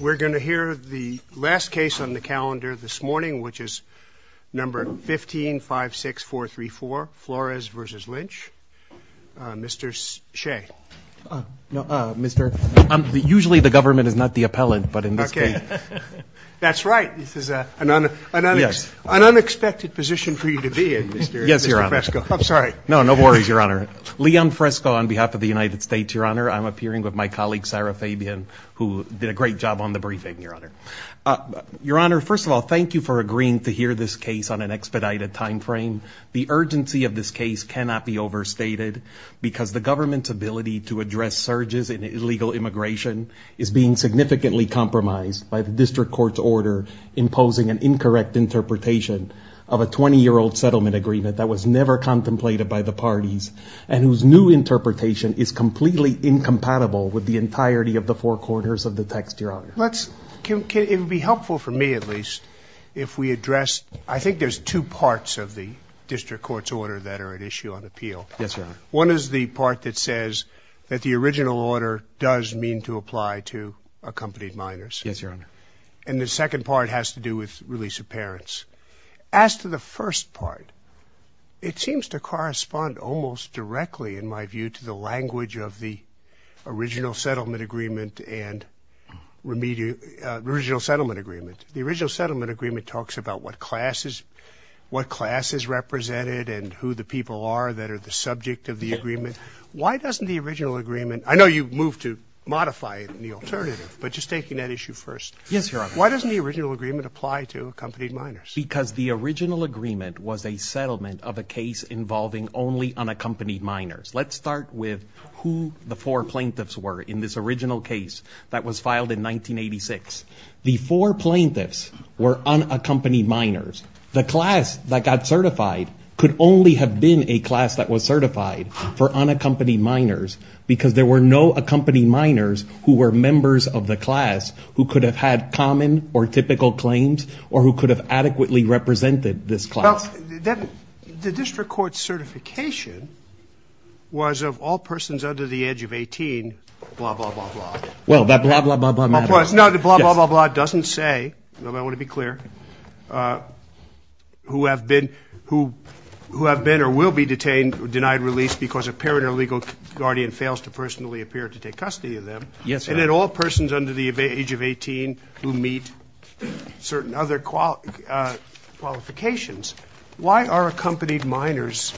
We're going to hear the last case on the calendar this morning, which is No. 15-56434, Flores v. Lynch. Mr. Shea. Usually the government is not the appellant, but in this case... That's right. This is an unexpected position for you to be in, Mr. Fresco. No, no worries, Your Honor. Leon Fresco on behalf of the United States, Your Honor. I'm appearing with my colleague, Sarah Fabian, who did a great job on the briefing, Your Honor. Your Honor, first of all, thank you for agreeing to hear this case on an expedited timeframe. The urgency of this case cannot be overstated because the government's ability to address surges in illegal immigration is being significantly compromised by the district court's order imposing an incorrect interpretation of a 20-year-old settlement agreement that was never contemplated by the parties and whose new interpretation is completely incompatible with the entirety of the four quarters of the text, Your Honor. It would be helpful for me, at least, if we addressed... I think there's two parts of the district court's order that are at issue on appeal. Yes, Your Honor. One is the part that says that the original order does mean to apply to accompanied minors. Yes, Your Honor. And the second part has to do with release of parents. As to the first part, it seems to correspond almost directly, in my view, to the language of the original settlement agreement and remedial... original settlement agreement. The original settlement agreement talks about what class is... what class is represented and who the people are that are the subject of the agreement. Why doesn't the original agreement... I know you moved to modify the alternative, but just taking that issue first. Yes, Your Honor. Why doesn't the original agreement apply to accompanied minors? Because the original agreement was a settlement of a case involving only unaccompanied minors. Let's start with who the four plaintiffs were in this original case that was filed in 1986. The four plaintiffs were unaccompanied minors. The class that got certified could only have been a class that was certified for unaccompanied minors, because there were no accompanied minors who were members of the class who could have had common or typical claims or who could have adequately represented this class. The district court certification was of all persons under the age of 18, blah, blah, blah, blah. Well, that blah, blah, blah, blah matter. No, it's not that blah, blah, blah, blah doesn't say, and I want to be clear, who have been or will be detained or denied release because a parent or legal guardian fails to personally appear to take custody of them. Yes, Your Honor. And then all persons under the age of 18 who meet certain other qualifications. Why are accompanied minors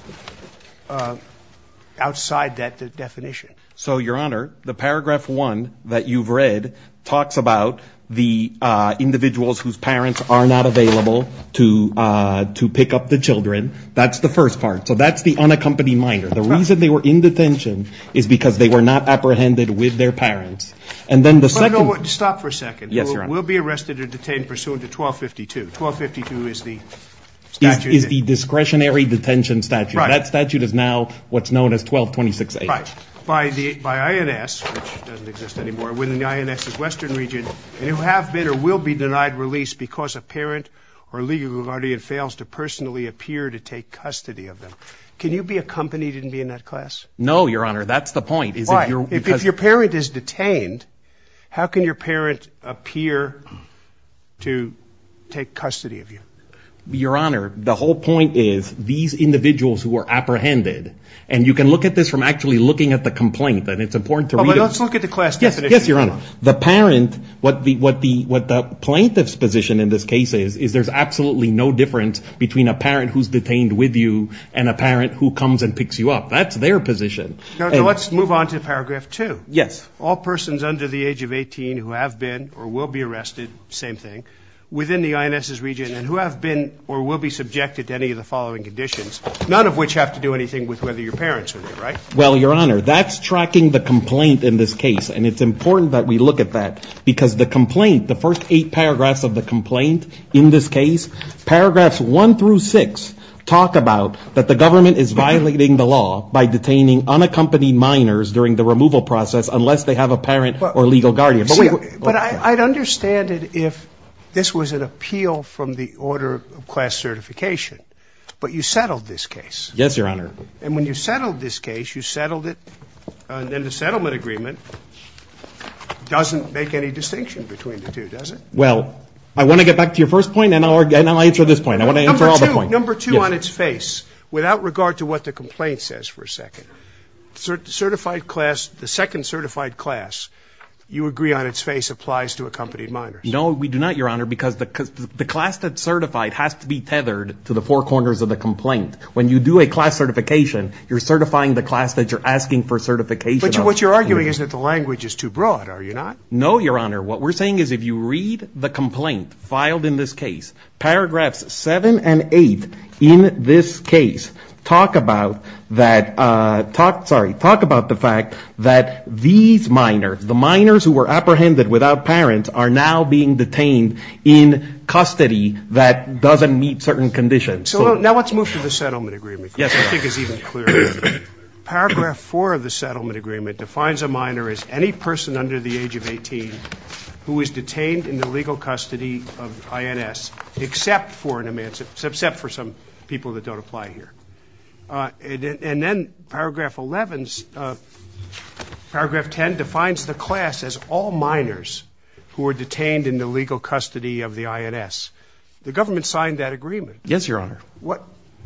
outside that definition? So, Your Honor, the paragraph one that you've read talks about the individuals whose parents are not available to pick up the children. That's the first part. So that's the unaccompanied minor. The reason they were in detention is because they were not apprehended with their parents. And then the second. Stop for a second. Yes, Your Honor. Will be arrested or detained pursuant to 1252. 1252 is the statute. Is the discretionary detention statute. Right. That statute is now what's known as 1226H. Right. By INS, which doesn't exist anymore. Within the INS's western region. And who have been or will be denied release because a parent or legal guardian fails to personally appear to take custody of them. Can you be accompanied and be in that class? No, Your Honor. That's the point. Why? If your parent is detained, how can your parent appear to take custody of you? Your Honor, the whole point is these individuals who are apprehended. And you can look at this from actually looking at the complaint. And it's important to read. Let's look at the class definition. Yes, Your Honor. The parent, what the plaintiff's position in this case is, is there's absolutely no difference between a parent who's detained with you and a parent who comes and picks you up. That's their position. Let's move on to paragraph 2. Yes. All persons under the age of 18 who have been or will be arrested, same thing, within the INS's region and who have been or will be subjected to any of the following conditions, none of which have to do anything with whether your parents are there, right? Well, Your Honor, that's tracking the complaint in this case. And it's important that we look at that. Because the complaint, the first eight paragraphs of the complaint in this case, paragraphs 1 through 6, talk about that the government is violating the law by detaining unaccompanied minors during the removal process unless they have a parent or legal guardian. But I'd understand it if this was an appeal from the order of class certification. But you settled this case. Yes, Your Honor. And when you settled this case, you settled it, and the settlement agreement doesn't make any distinction between the two, does it? Well, I want to get back to your first point, and I'll answer this point. I want to answer all the points. Number 2, on its face, without regard to what the complaint says for a second, certified class, the second certified class, you agree on its face, applies to accompanied minors. No, we do not, Your Honor, because the class that's certified has to be tethered to the four corners of the complaint. When you do a class certification, you're certifying the class that you're asking for certification. But what you're arguing is that the language is too broad, are you not? No, Your Honor. What we're saying is if you read the complaint filed in this case, paragraphs 7 and 8 in this case talk about the fact that these minors, the minors who were apprehended without parents, are now being detained in custody that doesn't meet certain conditions. So now let's move to the settlement agreement. Yes, Your Honor. I think it's even clearer. Paragraph 4 of the settlement agreement defines a minor as any person under the age of 18 who is detained in the legal custody of INS except for some people that don't apply here. And then paragraph 11, paragraph 10 defines the class as all minors who are detained in the legal custody of the INS. The government signed that agreement. Yes, Your Honor.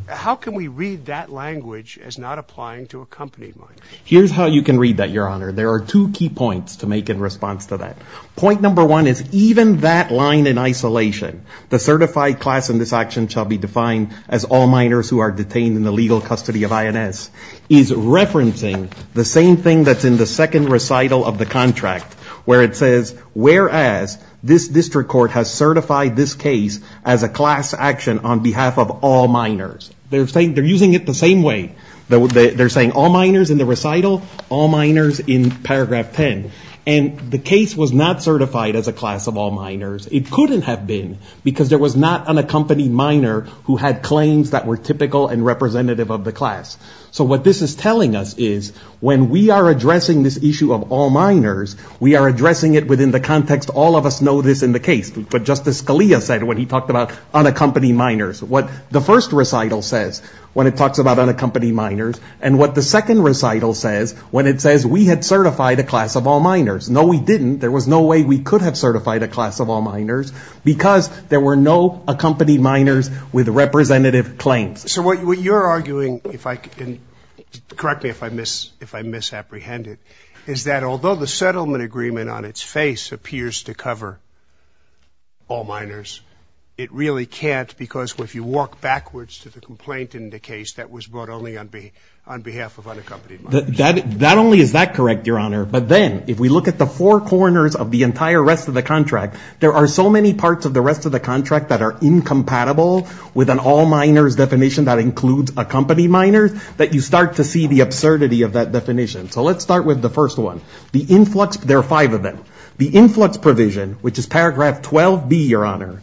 How can we read that language as not applying to accompanying minors? Here's how you can read that, Your Honor. There are two key points to make in response to that. Point number one is even that line in isolation, the certified class in this action shall be defined as all minors who are detained in the legal custody of INS, is referencing the same thing that's in the second recital of the contract where it says, whereas this district court has certified this case as a class action on behalf of all minors. They're using it the same way. They're saying all minors in the recital, all minors in paragraph 10. And the case was not certified as a class of all minors. It couldn't have been because there was not an accompanied minor who had claims that were typical and representative of the class. So what this is telling us is when we are addressing this issue of all minors, we are addressing it within the context all of us know this in the case. But Justice Scalia said when he talked about unaccompanied minors, what the first recital says when it talks about unaccompanied minors, and what the second recital says when it says we had certified a class of all minors. No, we didn't. There was no way we could have certified a class of all minors because there were no accompanied minors with representative claims. So what you're arguing, correct me if I misapprehend it, is that although the settlement agreement on its face appears to cover all minors, it really can't because if you walk backwards to the complaint in the case that was brought only on behalf of unaccompanied minors. That only is that correct, Your Honor. But then if we look at the four corners of the entire rest of the contract, there are so many parts of the rest of the contract that are incompatible with an all minors definition that includes accompanied minors that you start to see the absurdity of that definition. So let's start with the first one. The influx, there are five of them. The influx provision, which is paragraph 12B, Your Honor,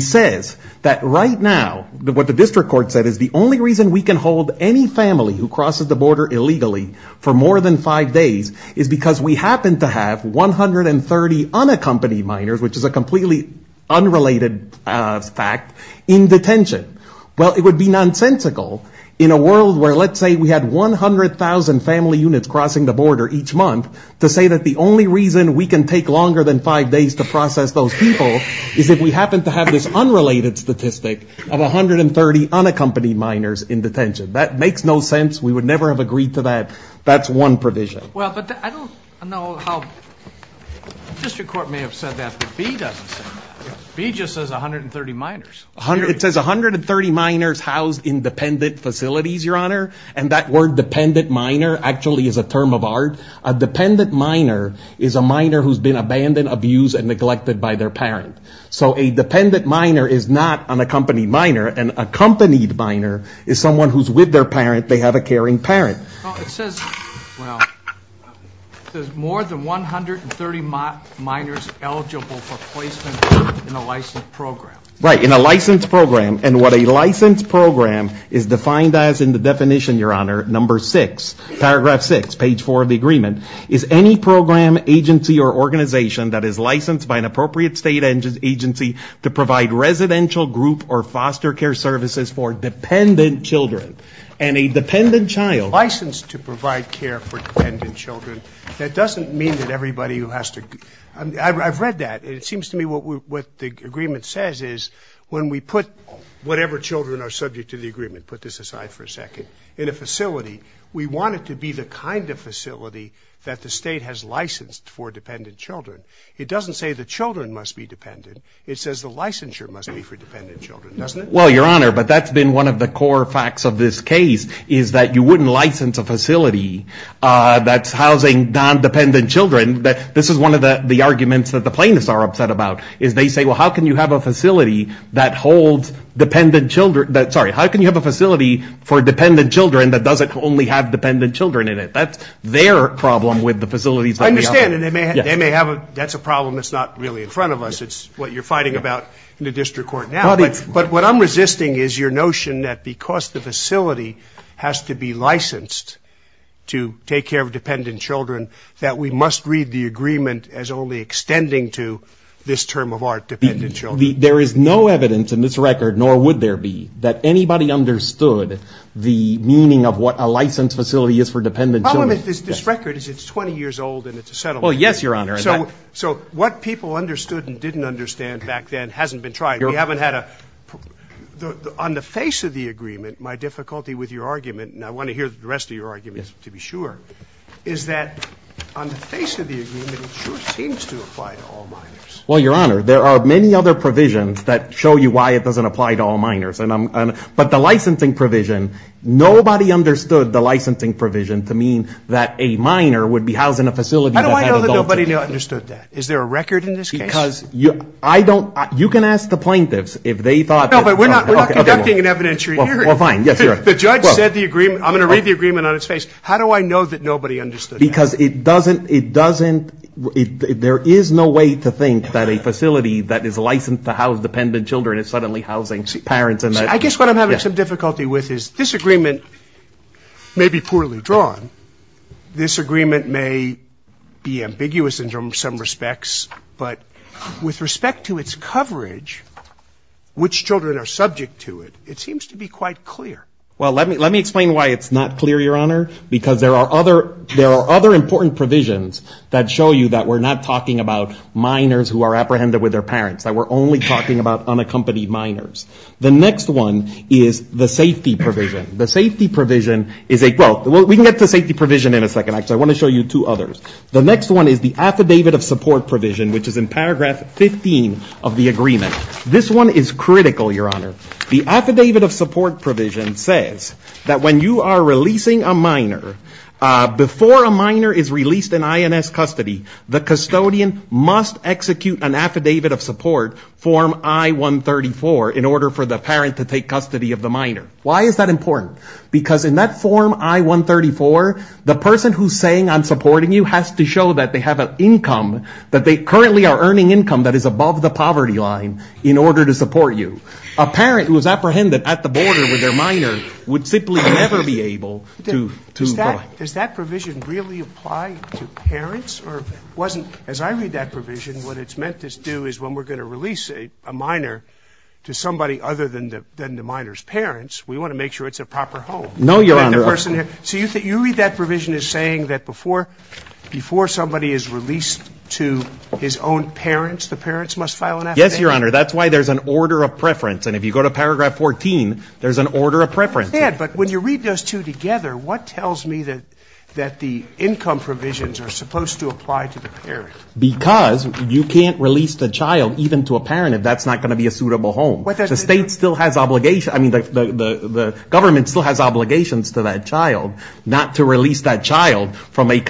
says that right now what the district court said is the only reason we can hold any family who crosses the border illegally for more than five days is because we happen to have 130 unaccompanied minors, which is a completely unrelated fact, in detention. Well, it would be nonsensical in a world where let's say we had 100,000 family units crossing the border each month to say that the only reason we can take longer than five days to process those people is if we happen to have this unrelated statistic of 130 unaccompanied minors in detention. That makes no sense. We would never have agreed to that. That's one provision. Well, but I don't know how district court may have said that, but B doesn't say that. B just says 130 minors. It says 130 minors housed in dependent facilities, Your Honor, and that word dependent minor actually is a term of art. A dependent minor is a minor who's been abandoned, abused, and neglected by their parent. So a dependent minor is not an accompanied minor. An accompanied minor is someone who's with their parent. They have a caring parent. Well, it says, well, there's more than 130 minors eligible for placement in a licensed program. Right, in a licensed program, and what a licensed program is defined as in the definition, Your Honor, number 6, paragraph 6, page 4 of the agreement, is any program, agency, or organization that is licensed by an appropriate state agency to provide residential group or foster care services for dependent children. And a dependent child. Licensed to provide care for dependent children. That doesn't mean that everybody who has to, I've read that. It seems to me what the agreement says is when we put whatever children are subject to the agreement, put this aside for a second, in a facility, we want it to be the kind of facility that the state has licensed for dependent children. It doesn't say the children must be dependent. It says the licensure must be for dependent children, doesn't it? Well, Your Honor, but that's been one of the core facts of this case, is that you wouldn't license a facility that's housing non-dependent children. This is one of the arguments that the plaintiffs are upset about, is they say, well, how can you have a facility that holds dependent children, sorry, how can you have a facility for dependent children that doesn't only have dependent children in it? That's their problem with the facilities. I understand, and they may have a, that's a problem that's not really in front of us. It's what you're fighting about in the district court now. But what I'm resisting is your notion that because the facility has to be licensed to take care of dependent children, that we must read the agreement as only extending to this term of art, dependent children. There is no evidence in this record, nor would there be, that anybody understood the meaning of what a licensed facility is for dependent children. The problem with this record is it's 20 years old and it's a settlement. Well, yes, Your Honor. So what people understood and didn't understand back then hasn't been tried. We haven't had a, on the face of the agreement, my difficulty with your argument, and I want to hear the rest of your arguments to be sure, is that on the face of the agreement, it sure seems to apply to all minors. Well, Your Honor, there are many other provisions that show you why it doesn't apply to all minors. But the licensing provision, nobody understood the licensing provision to mean that a minor would be housed in a facility. How do I know that nobody understood that? Is there a record in this case? Because I don't, you can ask the plaintiffs if they thought that. No, but we're not conducting an evidentiary hearing. Well, fine, yes, Your Honor. The judge said the agreement, I'm going to read the agreement on its face. How do I know that nobody understood that? Because it doesn't, it doesn't, there is no way to think that a facility that is licensed to house dependent children is suddenly housing parents in that. I guess what I'm having some difficulty with is this agreement may be poorly drawn. This agreement may be ambiguous in some respects. But with respect to its coverage, which children are subject to it, it seems to be quite clear. Well, let me explain why it's not clear, Your Honor, because there are other important provisions that show you that we're not talking about minors who are apprehended with their parents, that we're only talking about unaccompanied minors. The next one is the safety provision. The safety provision is a, well, we can get to safety provision in a second. Actually, I want to show you two others. The next one is the affidavit of support provision, which is in paragraph 15 of the agreement. This one is critical, Your Honor. The affidavit of support provision says that when you are releasing a minor, before a minor is released in INS custody, the custodian must execute an affidavit of support, form I-134, in order for the parent to take custody of the minor. Why is that important? Because in that form I-134, the person who's saying I'm supporting you has to show that they have an income, that they currently are earning income that is above the poverty line in order to support you. A parent who is apprehended at the border with their minor would simply never be able to Does that provision really apply to parents? Or wasn't, as I read that provision, what it's meant to do is when we're going to release a minor to somebody other than the minor's parents, we want to make sure it's a proper home. No, Your Honor. So you read that provision as saying that before somebody is released to his own parents, the parents must file an affidavit? Yes, Your Honor. That's why there's an order of preference. And if you go to paragraph 14, there's an order of preference. But when you read those two together, what tells me that the income provisions are supposed to apply to the parent? Because you can't release the child even to a parent if that's not going to be a suitable home. The state still has obligations, I mean, the government still has obligations to that child not to release that child from an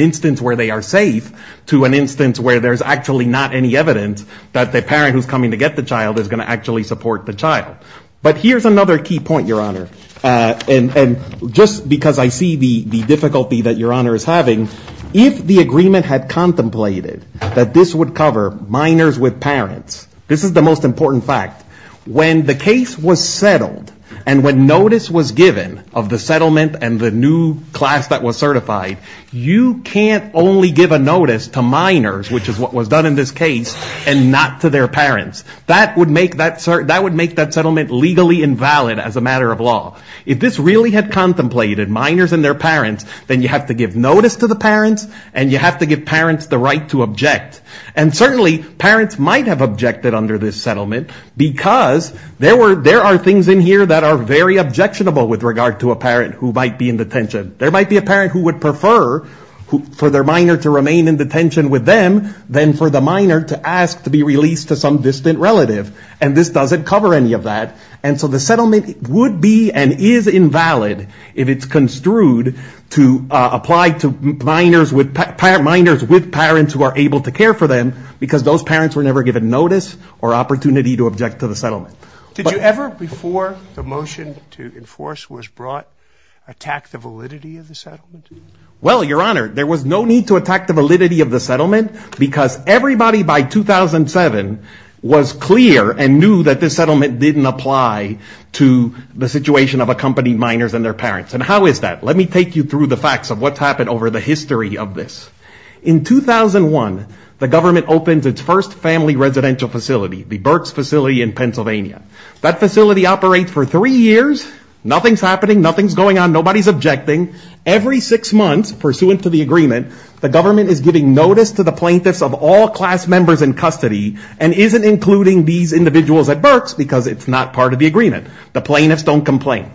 instance where they are safe to an instance where there's actually not any evidence that the parent who's coming to get the child is going to actually support the child. But here's another key point, Your Honor. And just because I see the difficulty that Your Honor is having, if the agreement had contemplated that this would cover minors with parents, this is the most important fact. When the case was settled and when notice was given of the settlement and the new class that was certified, you can't only give a notice to minors, which is what was done in this case, and not to their parents. That would make that settlement legally invalid as a matter of law. If this really had contemplated minors and their parents, then you have to give notice to the parents and you have to give parents the right to object. And certainly parents might have objected under this settlement because there are things in here that are very objectionable with regard to a parent who might be in detention. There might be a parent who would prefer for their minor to remain in detention with them than for the minor to ask to be released to some distant relative. And this doesn't cover any of that. And so the settlement would be and is invalid if it's construed to apply to minors with parents who are able to care for them because those parents were never given notice or opportunity to object to the settlement. Did you ever, before the motion to enforce was brought, attack the validity of the settlement? Well, Your Honor, there was no need to attack the validity of the settlement because everybody by 2007 was clear and knew that this settlement didn't apply to the situation of accompanied minors and their parents. And how is that? Let me take you through the facts of what's happened over the history of this. In 2001, the government opens its first family residential facility, the Burks facility in Pennsylvania. That facility operates for three years. Nothing's happening. Nothing's going on. Nobody's objecting. Every six months, pursuant to the agreement, the government is giving notice to the plaintiffs of all class members in custody and isn't including these individuals at Burks because it's not part of the agreement. The plaintiffs don't complain.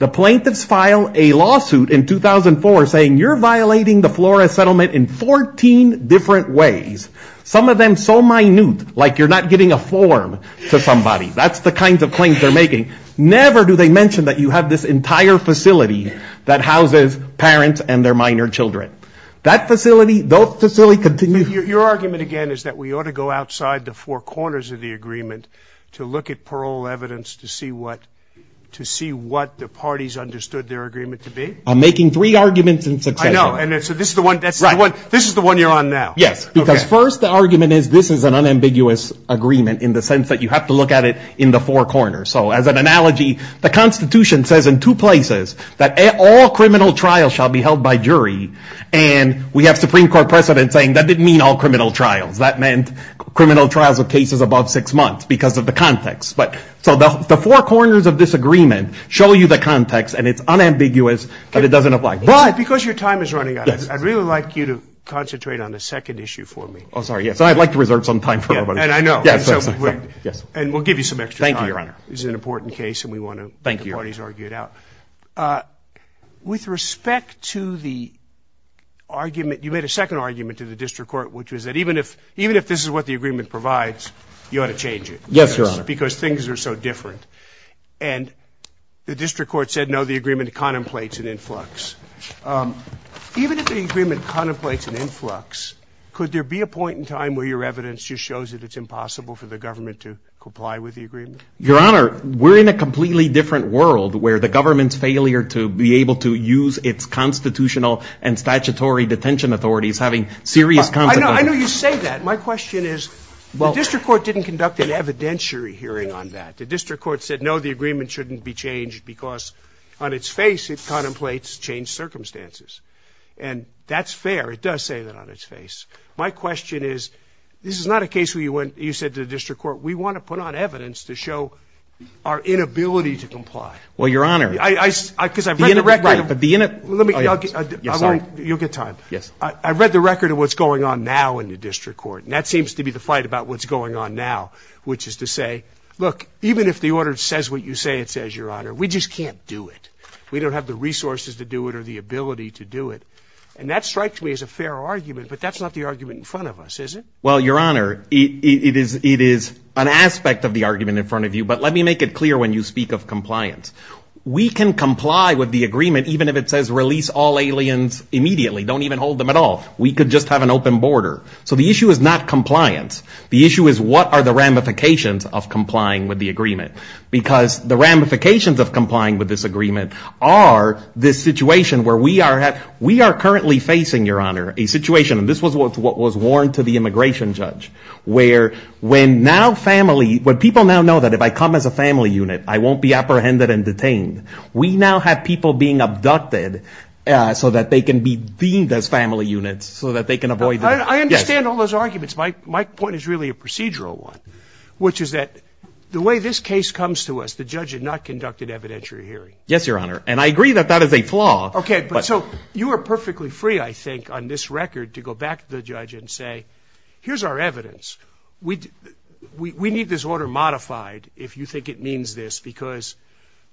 The plaintiffs file a lawsuit in 2004 saying you're violating the Flores settlement in 14 different ways, some of them so minute, like you're not giving a form to somebody. That's the kind of claims they're making. Never do they mention that you have this entire facility that houses parents and their minor children. That facility, those facilities continue. Your argument, again, is that we ought to go outside the four corners of the agreement to look at parole evidence to see what the parties understood their agreement to be? I'm making three arguments in succession. I know, and so this is the one you're on now. Yes, because first the argument is this is an unambiguous agreement in the sense that you have to look at it in the four corners. So as an analogy, the Constitution says in two places that all criminal trials shall be held by jury, and we have Supreme Court precedent saying that didn't mean all criminal trials. That meant criminal trials of cases above six months because of the context. So the four corners of this agreement show you the context, and it's unambiguous, but it doesn't apply. But because your time is running out, I'd really like you to concentrate on the second issue for me. Oh, sorry, yes, I'd like to reserve some time for everybody. And I know. Yes. And we'll give you some extra time. Thank you, Your Honor. This is an important case, and we want to get the parties argued out. With respect to the argument, you made a second argument to the district court, which was that even if this is what the agreement provides, you ought to change it. Yes, Your Honor. Because things are so different. And the district court said, no, the agreement contemplates an influx. Your Honor, we're in a completely different world where the government's failure to be able to use its constitutional and statutory detention authorities having serious consequences. I know you say that. My question is the district court didn't conduct an evidentiary hearing on that. The district court said, no, the agreement shouldn't be changed because on its face, it contemplates changed circumstances. And that's fair. It does say that on its face. My question is, this is not a case where you said to the district court, we want to put on evidence to show our inability to comply. Well, Your Honor. Because I've read the record. Right. But the innit. You'll get time. Yes. I've read the record of what's going on now in the district court. And that seems to be the fight about what's going on now, which is to say, look, even if the order says what you say it says, Your Honor, we just can't do it. We don't have the resources to do it or the ability to do it. And that strikes me as a fair argument. But that's not the argument in front of us, is it? Well, Your Honor, it is an aspect of the argument in front of you. But let me make it clear when you speak of compliance. We can comply with the agreement even if it says release all aliens immediately. Don't even hold them at all. We could just have an open border. So the issue is not compliance. The issue is what are the ramifications of complying with the agreement. Because the ramifications of complying with this agreement are this situation where we are currently facing, Your Honor, a situation, and this was what was warned to the immigration judge, where people now know that if I come as a family unit, I won't be apprehended and detained. We now have people being abducted so that they can be deemed as family units, so that they can avoid that. I understand all those arguments. My point is really a procedural one, which is that the way this case comes to us, the judge had not conducted evidentiary hearing. Yes, Your Honor. And I agree that that is a flaw. Okay. So you are perfectly free, I think, on this record to go back to the judge and say, here's our evidence. We need this order modified if you think it means this, because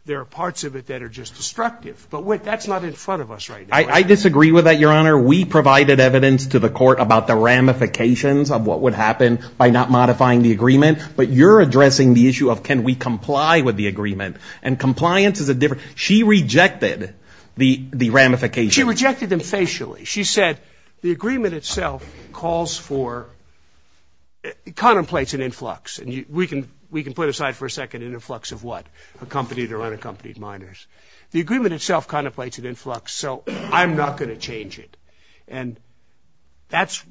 there are parts of it that are just destructive. But that's not in front of us right now. I disagree with that, Your Honor. We provided evidence to the court about the ramifications of what would happen by not modifying the agreement. But you're addressing the issue of can we comply with the agreement. And compliance is a different. She rejected the ramifications. She rejected them facially. She said the agreement itself calls for, contemplates an influx. And we can put aside for a second an influx of what? Accompanied or unaccompanied minors. The agreement itself contemplates an influx, so I'm not going to change it. And that's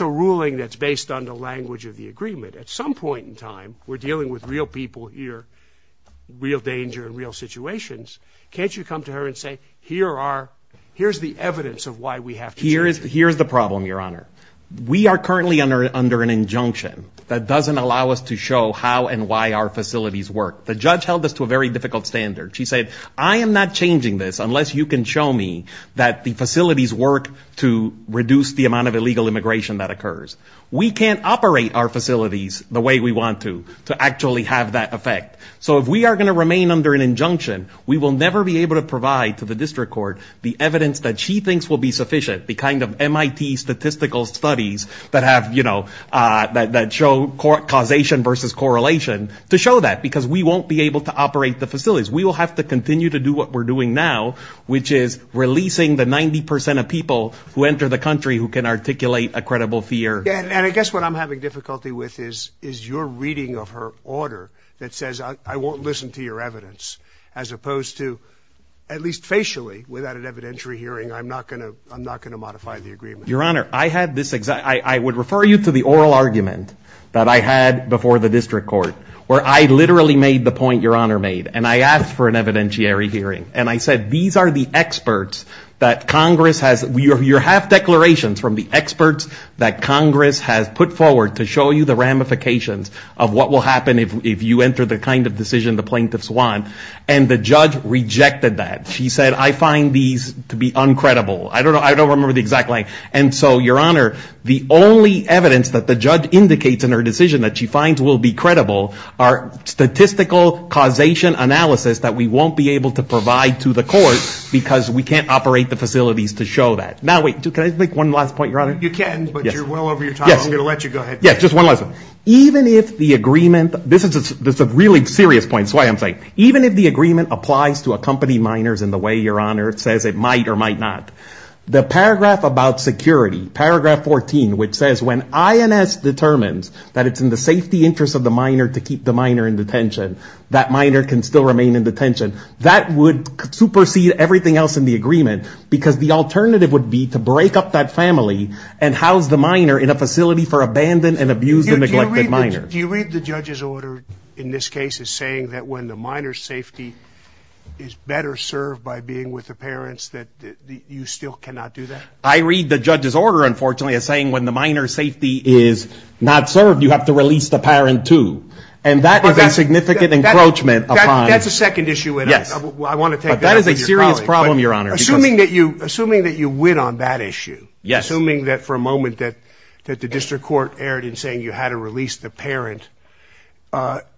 a ruling that's based on the language of the agreement. At some point in time, we're dealing with real people here, real danger and real situations. Can't you come to her and say here's the evidence of why we have to change it? Here's the problem, Your Honor. We are currently under an injunction that doesn't allow us to show how and why our facilities work. The judge held this to a very difficult standard. She said I am not changing this unless you can show me that the facilities work to reduce the amount of illegal immigration that occurs. We can't operate our facilities the way we want to, to actually have that effect. So if we are going to remain under an injunction, we will never be able to provide to the district court the evidence that she thinks will be sufficient, the kind of MIT statistical studies that have, you know, that show causation versus correlation to show that because we won't be able to operate the facilities. We will have to continue to do what we're doing now, which is releasing the 90 percent of people who enter the country who can articulate a credible fear. And I guess what I'm having difficulty with is your reading of her order that says I won't listen to your evidence as opposed to, at least facially, without an evidentiary hearing, I'm not going to modify the agreement. Your Honor, I had this exact, I would refer you to the oral argument that I had before the district court where I literally made the point Your Honor made, and I asked for an evidentiary hearing, and I said these are the experts that Congress has, you have declarations from the experts that Congress has put forward to show you the ramifications of what will happen if you enter the kind of decision the plaintiffs want, and the judge rejected that. She said I find these to be uncredible. I don't remember the exact line. And so, Your Honor, the only evidence that the judge indicates in her decision that she finds will be credible are statistical causation analysis that we won't be able to provide to the court because we can't operate the facilities to show that. Now, wait, can I make one last point, Your Honor? You can, but you're well over your time. I'm going to let you go ahead. Yes, just one last thing. Even if the agreement, this is a really serious point, even if the agreement applies to accompany minors in the way, Your Honor, it says it might or might not, the paragraph about security, paragraph 14, which says when INS determines that it's in the safety interest of the minor to keep the minor in detention, that minor can still remain in detention, that would supersede everything else in the agreement because the alternative would be to break up that family and house the minor in a facility for abandoned and abused and neglected minors. Do you read the judge's order in this case as saying that when the minor's safety is better served by being with the parents that you still cannot do that? I read the judge's order, unfortunately, as saying when the minor's safety is not served, you have to release the parent, too. And that is a significant encroachment. That's a second issue. I want to take that. But that is a serious problem, Your Honor. Assuming that you win on that issue, assuming that for a moment that the district court erred in saying you had to release the parent,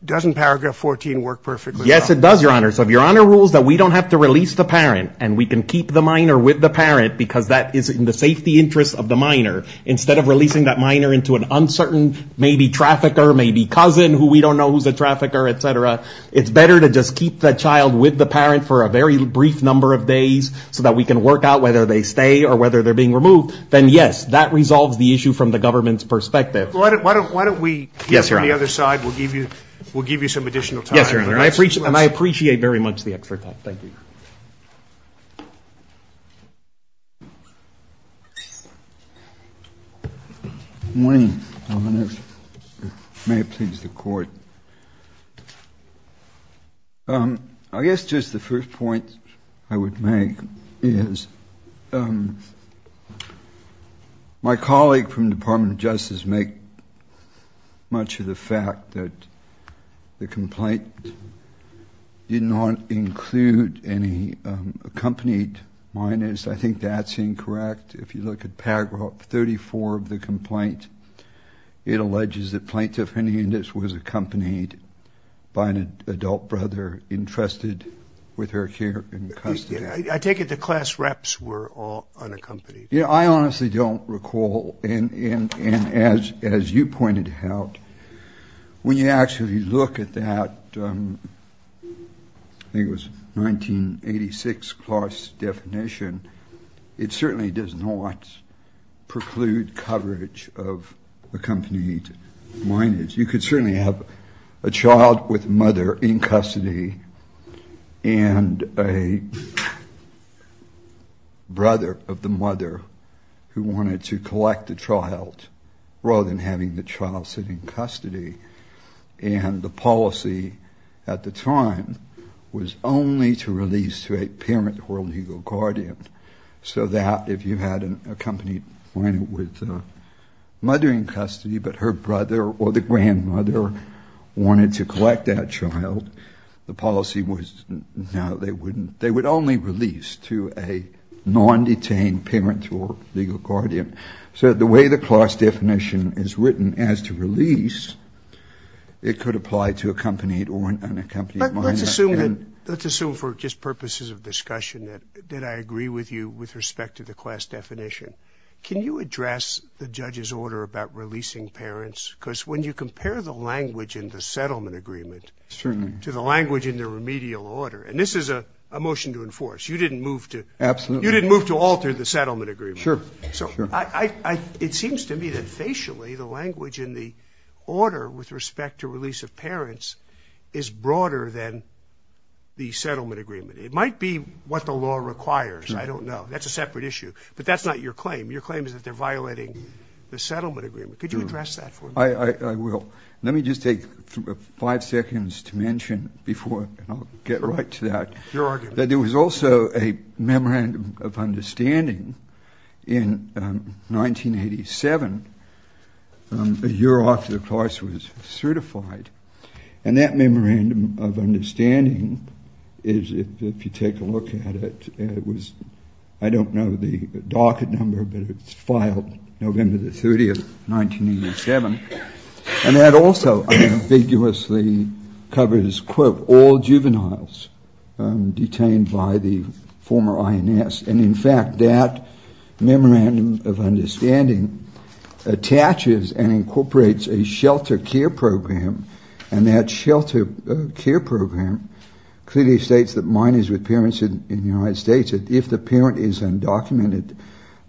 doesn't paragraph 14 work perfectly? Yes, it does, Your Honor. So if Your Honor rules that we don't have to release the parent and we can keep the minor with the parent because that is in the safety interest of the minor, instead of releasing that minor into an uncertain maybe trafficker, maybe cousin who we don't know who's a trafficker, et cetera, it's better to just keep the child with the parent for a very brief number of days so that we can work out whether they stay or whether they're being removed, then yes, that resolves the issue from the government's perspective. Why don't we move to the other side? We'll give you some additional time. Yes, Your Honor. And I appreciate very much the extra time. Thank you. Thank you. Good morning, Your Honor. May it please the Court. I guess just the first point I would make is my colleague from the Department of Justice make much of the fact that the complaint did not include any accompanied minors. I think that's incorrect. If you look at paragraph 34 of the complaint, it alleges that Plaintiff Hernandez was accompanied by an adult brother entrusted with her care and custody. I take it the class reps were all unaccompanied. Yeah, I honestly don't recall. And as you pointed out, when you actually look at that 1986 class definition, it certainly does not preclude coverage of accompanied minors. You could certainly have a child with a mother in custody and a brother of the mother who wanted to collect the child rather than having the child sit in custody. And the policy at the time was only to release to a parent or legal guardian so that if you had an accompanied minor with a mother in custody but her brother or the grandmother wanted to collect that child, the policy was now they would only release to a non-detained parent or legal guardian. So the way the class definition is written as to release, it could apply to accompanied or unaccompanied minors. Let's assume for just purposes of discussion that I agree with you with respect to the class definition. Can you address the judge's order about releasing parents? Because when you compare the language in the settlement agreement to the language in the remedial order, and this is a motion to enforce. You didn't move to alter the settlement agreement. Sure. It seems to me that facially the language in the order with respect to release of parents is broader than the settlement agreement. It might be what the law requires. I don't know. That's a separate issue. But that's not your claim. Your claim is that they're violating the settlement agreement. Could you address that for me? I will. Let me just take five seconds to mention before I'll get right to that, that there was also a memorandum of understanding in 1987, a year after the class was certified. And that memorandum of understanding is, if you take a look at it, it was, I don't know the docket number, but it was filed November the 30th, 1987. And that also ambiguously covers, quote, all juveniles detained by the former INS. And, in fact, that memorandum of understanding attaches and incorporates a shelter care program. And that shelter care program clearly states that minors with parents in the United States, that if the parent is undocumented,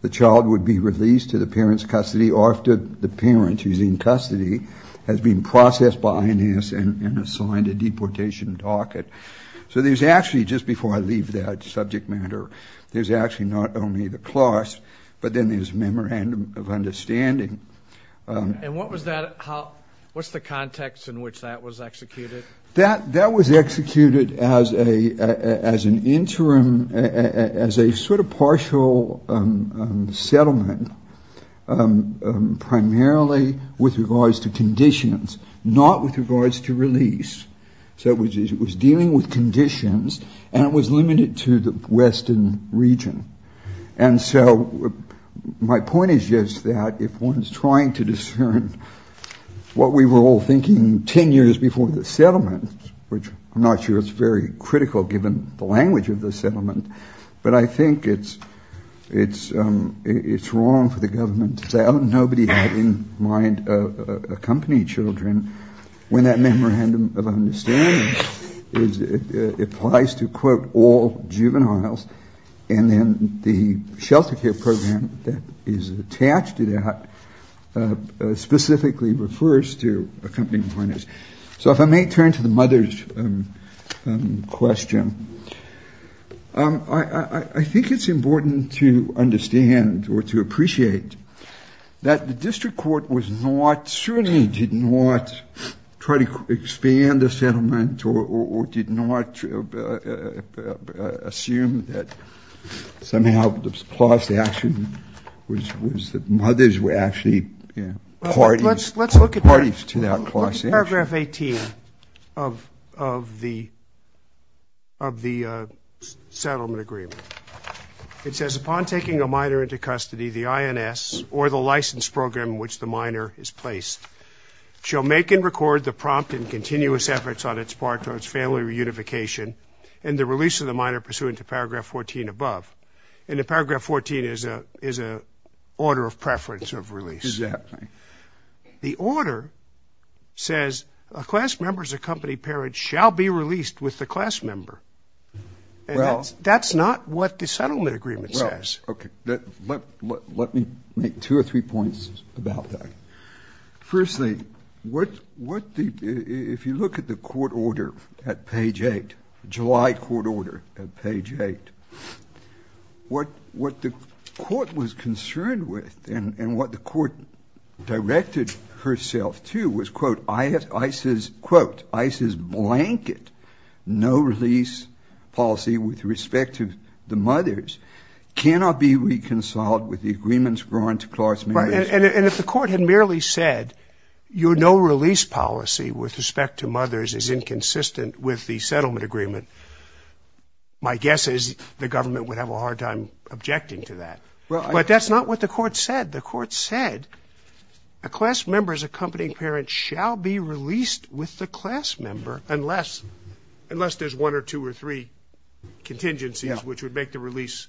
the child would be released to the parent's custody after the parent, who's in custody, has been processed by INS and assigned a deportation docket. So there's actually, just before I leave that subject matter, there's actually not only the class, but then there's a memorandum of understanding. And what was that? What's the context in which that was executed? That was executed as an interim, as a sort of partial settlement, primarily with regards to conditions, not with regards to release. So it was dealing with conditions, and it was limited to the western region. And so my point is just that if one's trying to discern what we were all thinking 10 years before the settlement, which I'm not sure it's very critical, given the language of the settlement, but I think it's wrong for the government to say, oh, nobody had in mind accompanying children, when that memorandum of understanding applies to, quote, all juveniles. And then the shelter care program that is attached to that specifically refers to accompanying partners. So if I may turn to the mothers question, I think it's important to understand or to appreciate that the district court was not, certainly did not try to expand the settlement or did not assume that somehow the class action was that mothers were actually parties to that class action. Let's look at paragraph 18 of the settlement agreement. It says, Upon taking a minor into custody, the INS, or the license program in which the minor is placed, shall make and record the prompt and continuous efforts on its part towards family reunification and the release of the minor pursuant to paragraph 14 above. And the paragraph 14 is an order of preference of release. Exactly. The order says, A class member's accompanied parent shall be released with the class member. And that's not what the settlement agreement says. Okay. Let me make two or three points about that. Firstly, if you look at the court order at page 8, July court order at page 8, what the court was concerned with and what the court directed herself to was, quote, ICE's blanket no-release policy with respect to the mothers cannot be reconciled with the agreements drawn to class members. And if the court had merely said, Your no-release policy with respect to mothers is inconsistent with the settlement agreement, my guess is the government would have a hard time objecting to that. But that's not what the court said. The court said, A class member's accompanied parent shall be released with the class member unless there's one or two or three contingencies which would make the release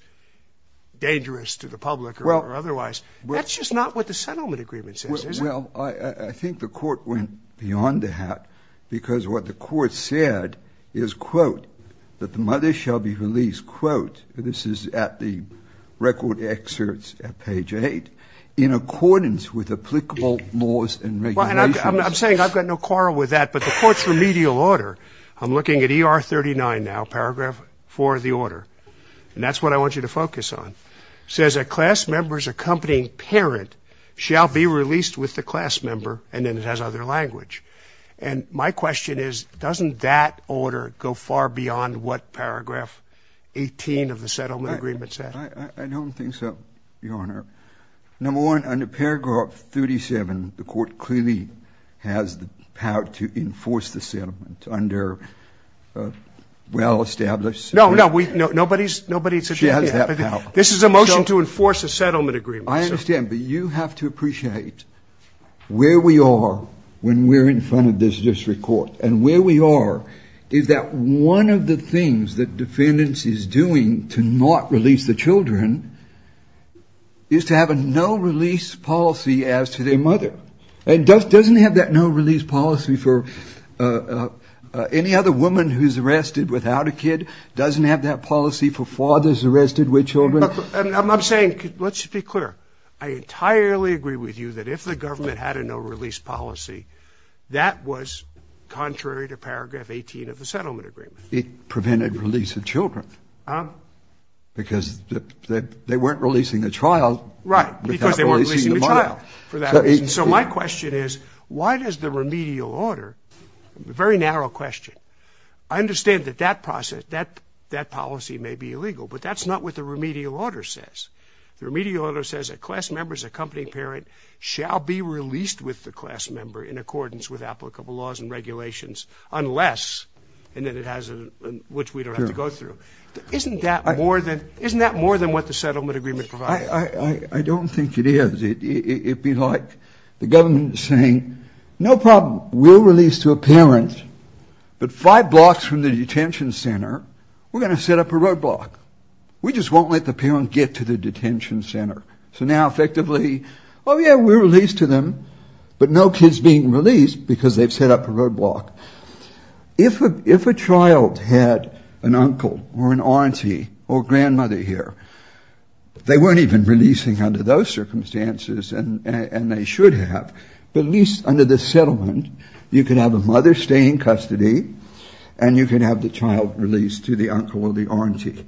dangerous to the public or otherwise. That's just not what the settlement agreement says, is it? Well, I think the court went beyond that because what the court said is, quote, that the mothers shall be released, quote, this is at the record excerpts at page 8, in accordance with applicable laws and regulations. I'm saying I've got no quarrel with that, but the court's remedial order, I'm looking at ER 39 now, paragraph 4 of the order, and that's what I want you to focus on, says a class member's accompanying parent shall be released with the class member, and then it has other language. And my question is, doesn't that order go far beyond what paragraph 18 of the settlement agreement said? I don't think so, Your Honor. Number one, under paragraph 37, the court clearly has the power to enforce the settlement under a well-established settlement. No, no, nobody's objecting to that. This is a motion to enforce a settlement agreement. I understand, but you have to appreciate where we are when we're in front of this district court, and where we are is that one of the things that defendants is doing to not release the children is to have a no-release policy as to their mother. It doesn't have that no-release policy for any other woman who's arrested without a kid. It doesn't have that policy for fathers arrested with children. I'm saying, let's be clear, I entirely agree with you that if the government had a no-release policy, that was contrary to paragraph 18 of the settlement agreement. It prevented release of children. Because they weren't releasing the child without releasing the mother. Right, because they weren't releasing the child for that reason. So my question is, why does the remedial order, a very narrow question, I understand that that policy may be illegal, but that's not what the remedial order says. The remedial order says a class member's accompanying parent shall be released with the class member in accordance with applicable laws and regulations, unless, and then it has a, which we don't have to go through. Isn't that more than what the settlement agreement provides? I don't think it is. It'd be like the government saying, no problem, we'll release to a parent, but five blocks from the detention center, we're going to set up a roadblock. We just won't let the parent get to the detention center. So now effectively, oh yeah, we're released to them, but no kid's being released because they've set up a roadblock. If a child had an uncle or an auntie or grandmother here, they weren't even releasing under those circumstances, and they should have. But at least under the settlement, you can have a mother stay in custody, and you can have the child released to the uncle or the auntie.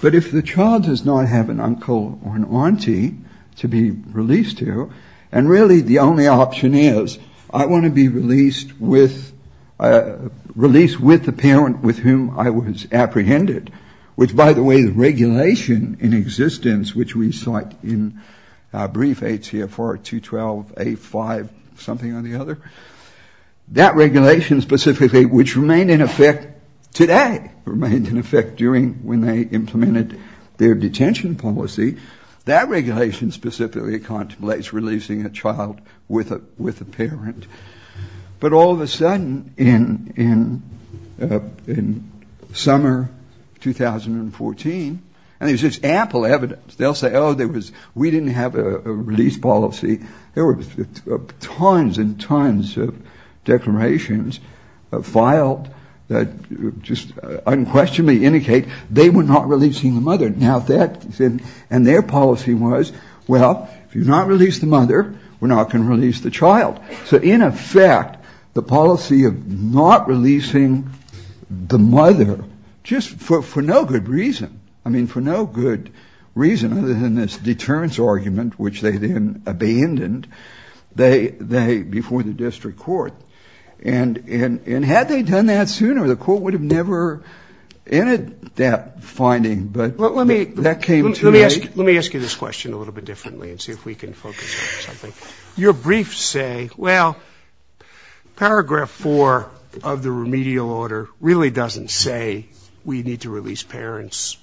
But if the child does not have an uncle or an auntie to be released to, and really the only option is, I want to be released with, released with the parent with whom I was apprehended, which by the way the regulation in existence, which we sought in brief, ATFR 212A5 something or the other, that regulation specifically, which remained in effect today, remained in effect during when they implemented their detention policy, that regulation specifically contemplates releasing a child with a parent. But all of a sudden, in summer 2014, and there's just ample evidence. They'll say, oh, we didn't have a release policy. There were tons and tons of declarations filed that just unquestionably indicate they were not releasing the mother. And their policy was, well, if you do not release the mother, we're not going to release the child. So in effect, the policy of not releasing the mother, just for no good reason, I mean for no good reason other than this deterrence argument, which they then abandoned before the district court. And had they done that sooner, the court would have never ended that finding. But let me ask you this question a little bit differently and see if we can focus on something. Your briefs say, well, paragraph four of the remedial order really doesn't say we need to release parents,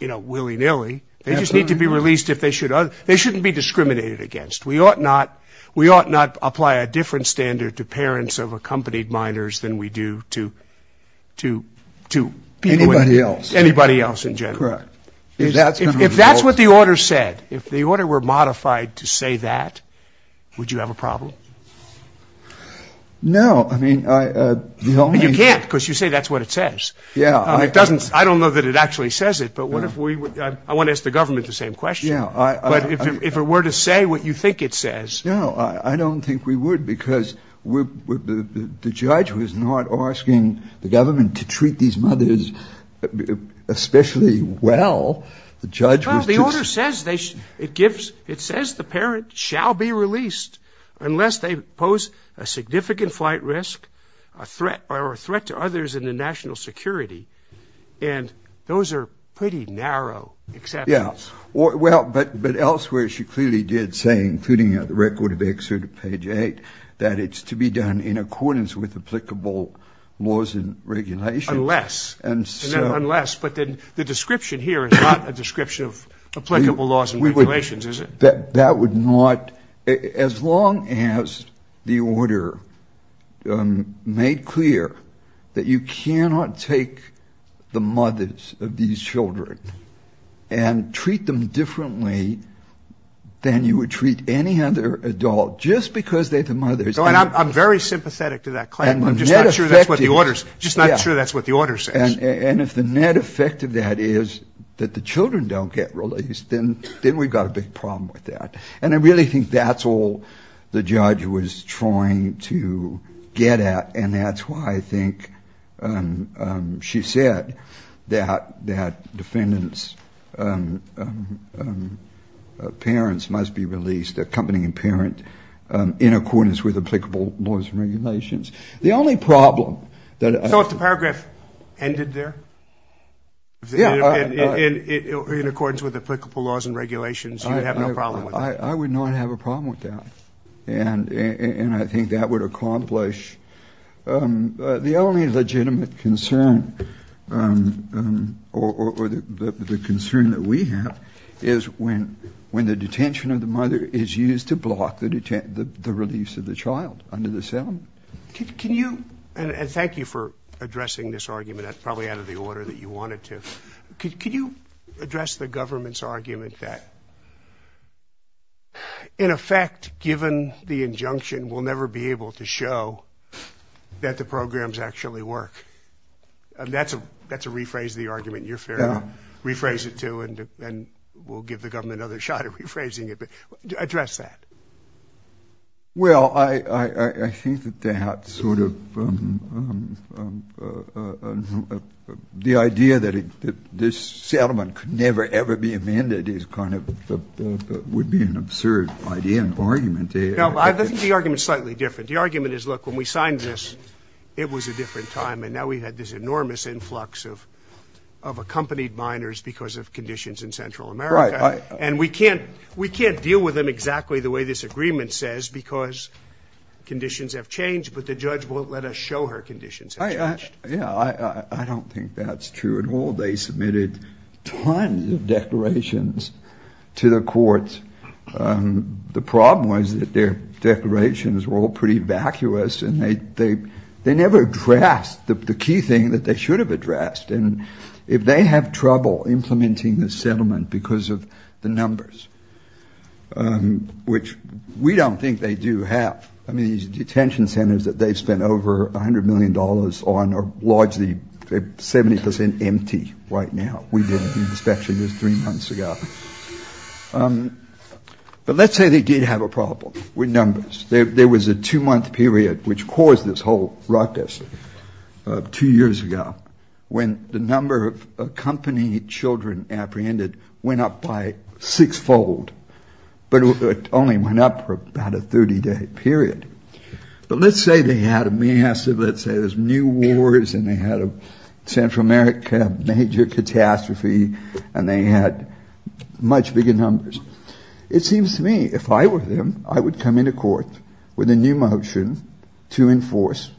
you know, willy-nilly. They just need to be released if they should. They shouldn't be discriminated against. We ought not apply a different standard to parents of accompanied minors than we do to people in the world. Anybody else. Anybody else in general. Correct. If that's what the order said, if the order were modified to say that, would you have a problem? No. You can't because you say that's what it says. Yeah. I don't know that it actually says it. But I want to ask the government the same question. But if it were to say what you think it says. No, I don't think we would because the judge was not asking the government to treat these mothers especially well. Well, the order says the parent shall be released unless they pose a significant flight risk or a threat to others in the national security. And those are pretty narrow exceptions. Yeah. Well, but elsewhere she clearly did say, including the record of excerpt of page 8, that it's to be done in accordance with applicable laws and regulations. Unless. Unless. But the description here is not a description of applicable laws and regulations, is it? That would not, as long as the order made clear that you cannot take the mothers of these children and treat them differently than you would treat any other adult just because they're the mothers. I'm very sympathetic to that claim. I'm just not sure that's what the order says. And if the net effect of that is that the children don't get released, then we've got a big problem with that. And I really think that's all the judge was trying to get at. And that's why I think she said that defendants' parents must be released, accompanying parent, in accordance with applicable laws and regulations. The only problem that. So if the paragraph ended there? Yeah. In accordance with applicable laws and regulations, you would have no problem with it. I would not have a problem with that. And I think that would accomplish. The only legitimate concern or the concern that we have is when the detention of the child is used to block the release of the child under the cell. Can you, and thank you for addressing this argument. That's probably out of the order that you wanted to. Could you address the government's argument that, in effect, given the injunction, we'll never be able to show that the programs actually work? That's a rephrase of the argument. You're fair enough. Rephrase it, too, and we'll give the government another shot at rephrasing it. Address that. Well, I think that that sort of the idea that this settlement could never, ever be amended is kind of would be an absurd idea and argument. No, I think the argument is slightly different. The argument is, look, when we signed this, it was a different time, and now we've had this enormous influx of accompanied minors because of conditions in Central America. Right. And we can't deal with them exactly the way this agreement says because conditions have changed, but the judge won't let us show her conditions have changed. Yeah, I don't think that's true at all. They submitted tons of declarations to the courts. The problem was that their declarations were all pretty vacuous, and they never addressed the key thing that they should have addressed. And if they have trouble implementing the settlement because of the numbers, which we don't think they do have, I mean, these detention centers that they've spent over 100 million dollars on are largely 70 percent empty right now. We did an inspection just three months ago. But let's say they did have a problem with numbers. There was a two-month period which caused this whole ruckus two years ago when the number of accompanied children apprehended went up by six-fold, but it only went up for about a 30-day period. But let's say they had a massive, let's say there's new wars, and they had a Central America major catastrophe, and they had much bigger numbers. It seems to me if I were them, I would come into court with a new motion to enforce,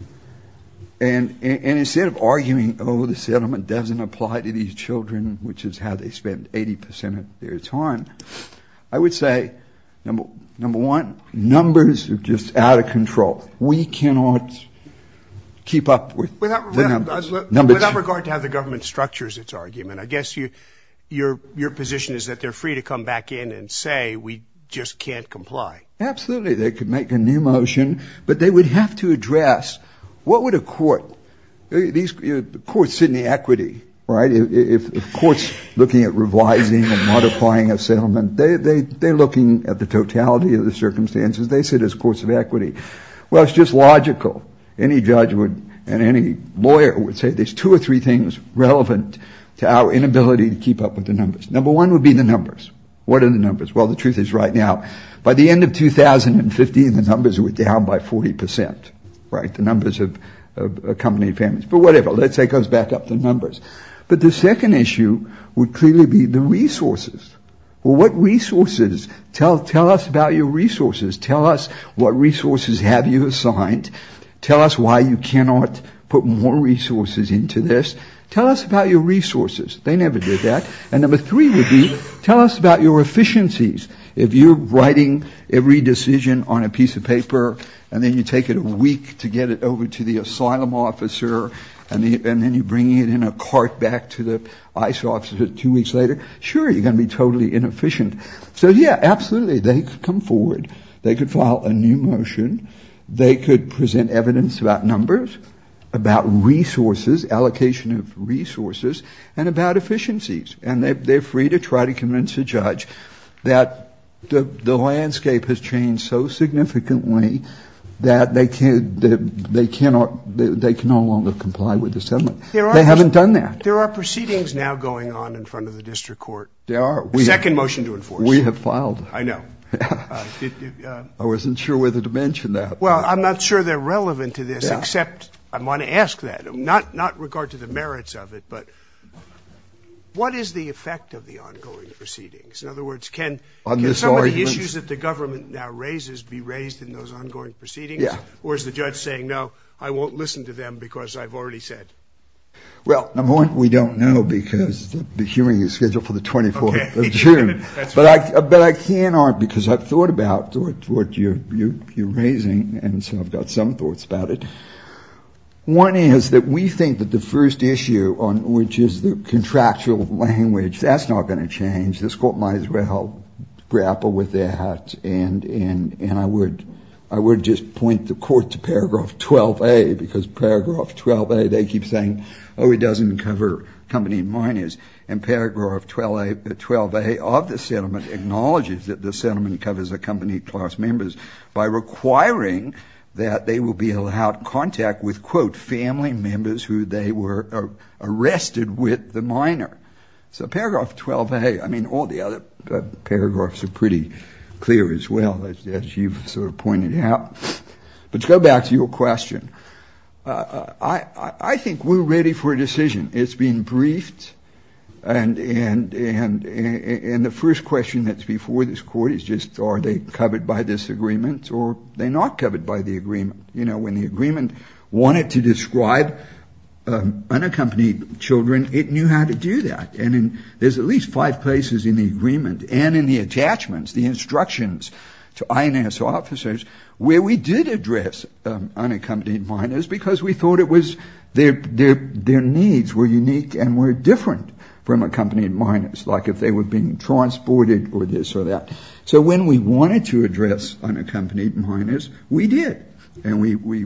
and instead of arguing, oh, the settlement doesn't apply to these children, which is how they spend 80 percent of their time, I would say, number one, numbers are just out of control. We cannot keep up with the numbers. Without regard to how the government structures its argument, I guess your position is that they're free to come back in and say we just can't comply. Absolutely. They could make a new motion, but they would have to address what would a court do? Courts sit in the equity, right? If courts are looking at revising and modifying a settlement, they're looking at the totality of the circumstances. They sit as courts of equity. Well, it's just logical. Any judge and any lawyer would say there's two or three things relevant to our inability to keep up with the numbers. Number one would be the numbers. What are the numbers? Well, the truth is right now, by the end of 2015, the numbers were down by 40 percent. Right. The numbers of company families. But whatever. Let's say it goes back up the numbers. But the second issue would clearly be the resources. What resources? Tell tell us about your resources. Tell us what resources have you assigned. Tell us why you cannot put more resources into this. Tell us about your resources. They never did that. And number three would be tell us about your efficiencies. If you're writing every decision on a piece of paper and then you take it a week to get it over to the asylum officer and then you bring it in a cart back to the ICE officer two weeks later, sure, you're going to be totally inefficient. So, yeah, absolutely. They come forward. They could file a new motion. They could present evidence about numbers, about resources, allocation of resources and about efficiencies. And they're free to try to convince a judge that the landscape has changed so significantly that they cannot they can no longer comply with the settlement. They haven't done that. There are proceedings now going on in front of the district court. There are. Second motion to enforce. We have filed. I know. I wasn't sure whether to mention that. Well, I'm not sure they're relevant to this, except I want to ask that. Not not regard to the merits of it, but what is the effect of the ongoing proceedings? In other words, can some of the issues that the government now raises be raised in those ongoing proceedings? Yeah. Or is the judge saying, no, I won't listen to them because I've already said. Well, number one, we don't know because the hearing is scheduled for the 24th of June. But I can't argue because I've thought about what you're raising. And so I've got some thoughts about it. One is that we think that the first issue on which is the contractual language, that's not going to change. This court might as well grapple with that. And and and I would I would just point the court to paragraph 12a because paragraph 12a, they keep saying, oh, it doesn't cover company miners. And paragraph 12a of the settlement acknowledges that the settlement covers a company class members by requiring that they will be allowed contact with, quote, family members who they were arrested with the minor. So paragraph 12a, I mean, all the other paragraphs are pretty clear as well, as you've sort of pointed out. But go back to your question. I think we're ready for a decision. It's been briefed. And and and and the first question that's before this court is just are they covered by this agreement or they not covered by the agreement? You know, when the agreement wanted to describe unaccompanied children, it knew how to do that. And there's at least five places in the agreement and in the attachments, the instructions to INS officers where we did address unaccompanied minors because we thought it was there. Their needs were unique and were different from accompanied minors, like if they were being transported or this or that. So when we wanted to address unaccompanied minors, we did. And we we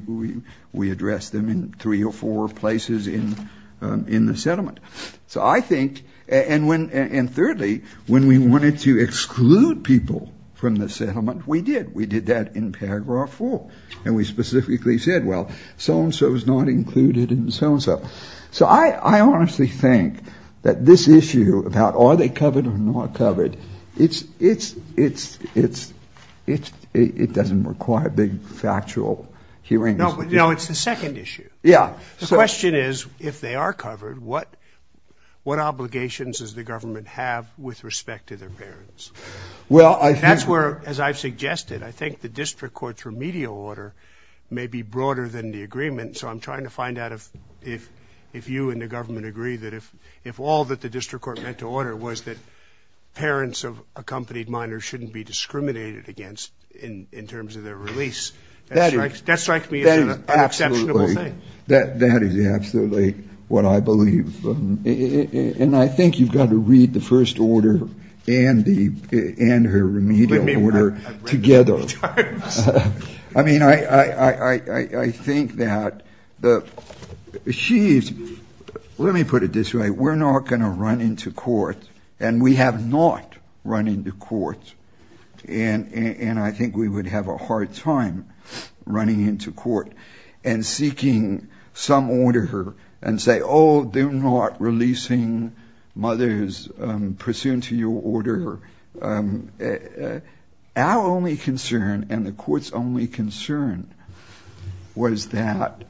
we addressed them in three or four places in in the settlement. So I think and when and thirdly, when we wanted to exclude people from the settlement, we did. We did that in paragraph four and we specifically said, well, so and so is not included in so and so. So I honestly think that this issue about are they covered or not covered? It's it's it's it's it's it doesn't require a big factual hearing. No, no. It's the second issue. Yeah. So the question is, if they are covered, what what obligations does the government have with respect to their parents? Well, I think that's where, as I've suggested, I think the district court's remedial order may be broader than the agreement. So I'm trying to find out if if if you and the government agree that if if all that the district court had to order was that parents of accompanied minors shouldn't be discriminated against in in terms of their release. That's right. That's right. That that is absolutely what I believe. And I think you've got to read the first order and the and her remedial order together. I mean, I, I think that the she's let me put it this way. We're not going to run into court and we have not run into court. And and I think we would have a hard time running into court and seeking some order and say, oh, they're not releasing mothers pursuant to your order. Our only concern and the court's only concern was that.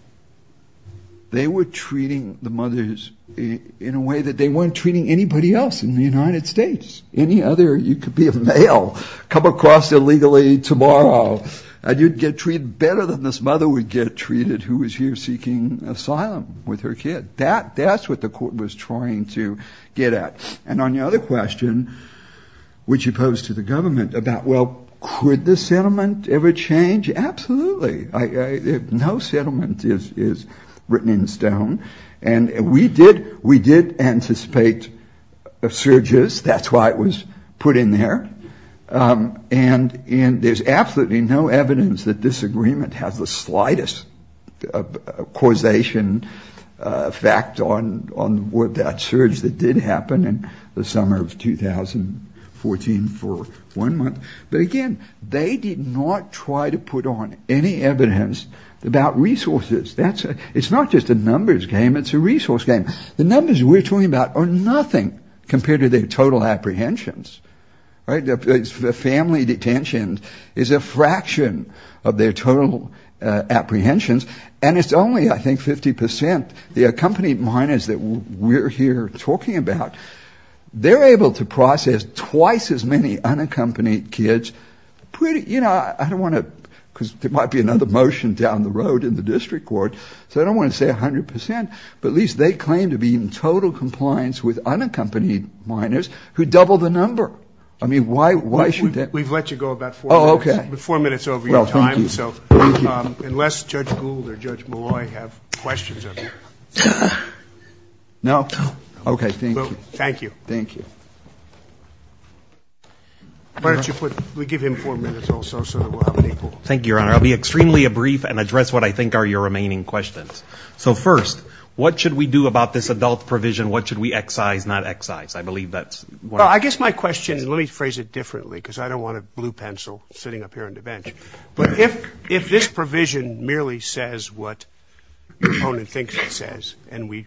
They were treating the mothers in a way that they weren't treating anybody else in the United States. Any other you could be a male, come across illegally tomorrow and you'd get treated better than this mother would get treated. Who is here seeking asylum with her kid? That that's what the court was trying to get at. And on the other question, which opposed to the government about, well, could the settlement ever change? Absolutely. No settlement is is written in stone. And we did we did anticipate surges. That's why it was put in there. And and there's absolutely no evidence that this agreement has the slightest causation effect on on what that surge that did happen in the summer of 2014 for one month. But again, they did not try to put on any evidence about resources. It's not just a numbers game. It's a resource game. The numbers we're talking about are nothing compared to their total apprehensions. Right. The family detention is a fraction of their total apprehensions. And it's only, I think, 50 percent. The accompanied minors that we're here talking about, they're able to process twice as many unaccompanied kids. Pretty. You know, I don't want to because there might be another motion down the road in the district court. So I don't want to say 100 percent, but at least they claim to be in total compliance with unaccompanied minors who double the number. I mean, why? Why should that? We've let you go about. Oh, OK. But four minutes over time. So unless Judge Gould or Judge Malloy have questions. No. OK. Thank you. Thank you. Thank you. Why don't you put we give him four minutes also. So thank you, Your Honor. I'll be extremely brief and address what I think are your remaining questions. So first, what should we do about this adult provision? What should we excise not excise? I believe that's I guess my question. Let me phrase it differently because I don't want a blue pencil sitting up here on the bench. But if if this provision merely says what the opponent thinks it says and we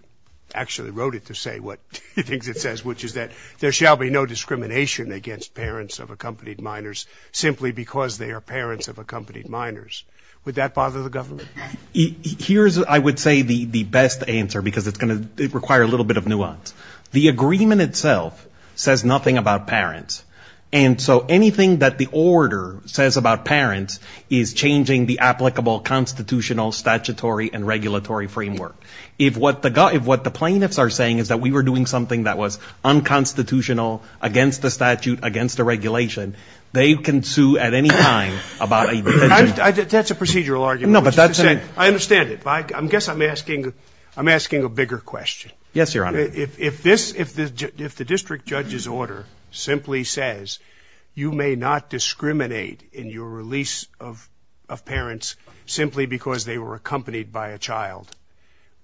actually wrote it to say what it thinks it says, which is that there shall be no discrimination against parents of accompanied minors simply because they are parents of accompanied minors. Would that bother the government? Here's I would say the best answer, because it's going to require a little bit of nuance. The agreement itself says nothing about parents. And so anything that the order says about parents is changing the applicable constitutional, statutory and regulatory framework. If what the if what the plaintiffs are saying is that we were doing something that was unconstitutional against the statute, against the regulation, they can sue at any time about that's a procedural argument. No, but I understand it. I guess I'm asking I'm asking a bigger question. Yes, Your Honor. If if this if if the district judge's order simply says you may not discriminate in your release of of parents simply because they were accompanied by a child.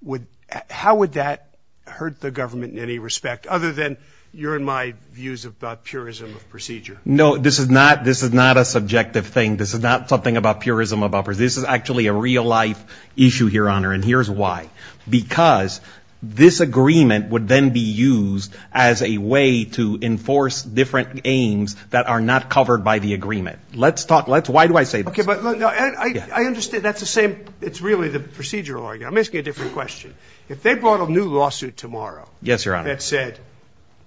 Would how would that hurt the government in any respect other than your and my views about purism of procedure? No, this is not this is not a subjective thing. This is not something about purism of upper. This is actually a real life issue here, Your Honor. And here's why. Because this agreement would then be used as a way to enforce different aims that are not covered by the agreement. Let's talk. Let's. Why do I say, OK, but I understand that's the same. It's really the procedural argument. I'm asking a different question. If they brought a new lawsuit tomorrow. Yes, Your Honor. That said,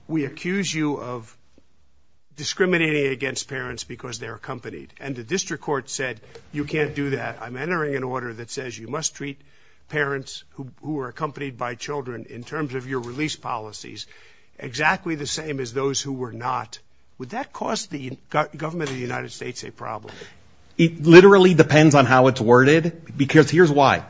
we accuse you of discriminating against parents because they're accompanied. And the district court said, you can't do that. I'm entering an order that says you must treat parents who are accompanied by children in terms of your release policies. Exactly the same as those who were not. Would that cause the government of the United States a problem? It literally depends on how it's worded, because here's why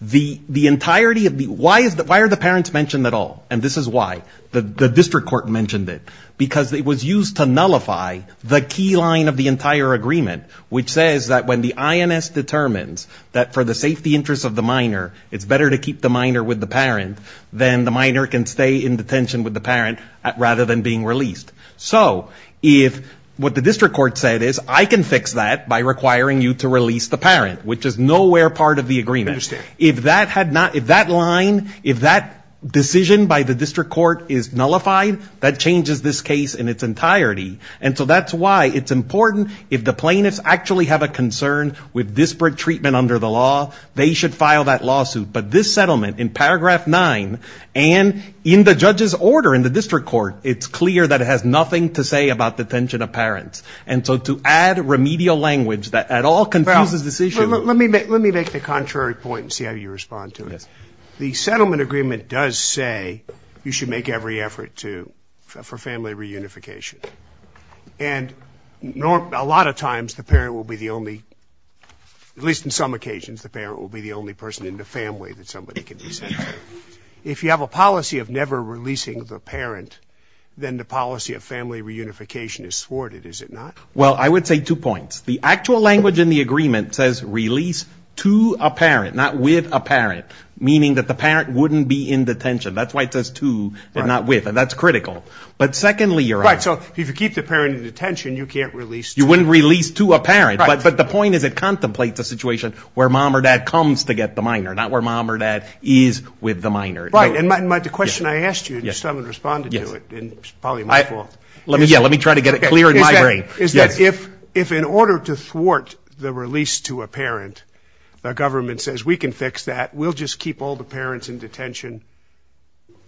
the the entirety of the why is that? Why are the parents mentioned at all? And this is why the district court mentioned it, because it was used to nullify the key line of the entire agreement, which says that when the INS determines that for the safety interests of the minor, it's better to keep the minor with the parent than the minor can stay in detention with the parent rather than being released. So if what the district court said is I can fix that by requiring you to release the parent, which is nowhere part of the agreement. If that had not if that line, if that decision by the district court is nullified, that changes this case in its entirety. And so that's why it's important. If the plaintiffs actually have a concern with disparate treatment under the law, they should file that lawsuit. But this settlement in paragraph nine and in the judge's order in the district court, it's clear that it has nothing to say about detention of parents. And so to add remedial language that at all confuses this issue. Let me let me make the contrary point and see how you respond to this. The settlement agreement does say you should make every effort to for family reunification. And a lot of times the parent will be the only at least in some occasions, the parent will be the only person in the family that somebody can be sent. If you have a policy of never releasing the parent, then the policy of family reunification is thwarted. Is it not? Well, I would say two points. The actual language in the agreement says release to a parent, not with a parent, meaning that the parent wouldn't be in detention. That's why it says to not with. And that's critical. But secondly, you're right. So if you keep the parent in detention, you can't release. You wouldn't release to a parent. But the point is it contemplates a situation where mom or dad comes to get the minor, not where mom or dad is with the minor. Right. And the question I asked you, someone responded to it. And it's probably my fault. Let me let me try to get it clear in my brain. Yes. If if in order to thwart the release to a parent, the government says we can fix that. We'll just keep all the parents in detention,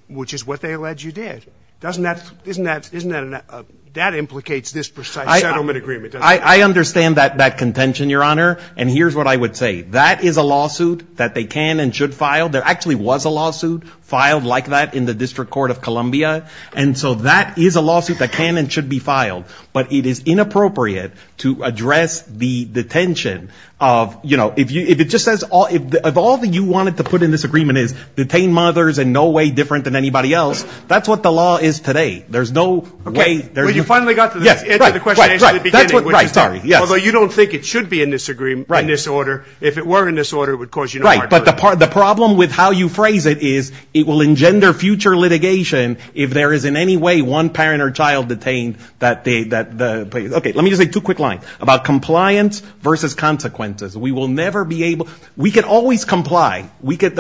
which is what they allege you did. Doesn't that isn't that isn't that that implicates this settlement agreement? I understand that that contention, Your Honor. And here's what I would say. That is a lawsuit that they can and should file. There actually was a lawsuit filed like that in the District Court of Columbia. And so that is a lawsuit that can and should be filed. But it is inappropriate to address the detention of, you know, if you if it just says all of all that you wanted to put in this agreement is detain mothers in no way different than anybody else. That's what the law is today. There's no way you finally got to the question. Although you don't think it should be in this agreement in this order. If it were in this order, it would cause you. Right. But the part of the problem with how you phrase it is it will engender future litigation. If there is in any way one parent or child detained that they that. OK, let me just say two quick lines about compliance versus consequences. We will never be able. We can always comply. We get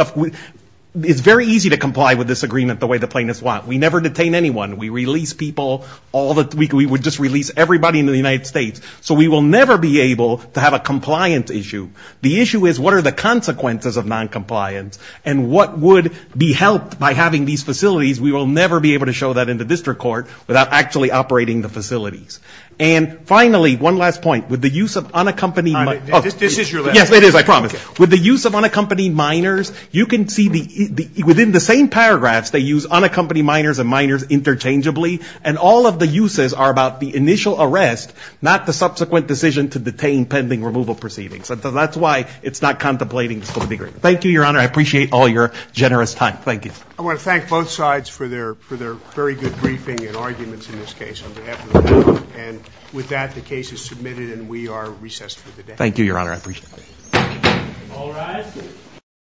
it's very easy to comply with this agreement the way the plaintiffs want. We never detain anyone. We release people all the week. We would just release everybody into the United States. So we will never be able to have a compliance issue. The issue is what are the consequences of noncompliance and what would be helped by having these facilities? We will never be able to show that in the district court without actually operating the facilities. And finally, one last point with the use of unaccompanied. This is your. Yes, it is. I promise. With the use of unaccompanied minors, you can see the within the same paragraphs. They use unaccompanied minors and minors interchangeably. And all of the uses are about the initial arrest, not the subsequent decision to detain pending removal proceedings. So that's why it's not contemplating. Thank you, Your Honor. I appreciate all your generous time. Thank you. I want to thank both sides for their for their very good briefing and arguments in this case. And with that, the case is submitted and we are recessed. Thank you, Your Honor. I appreciate.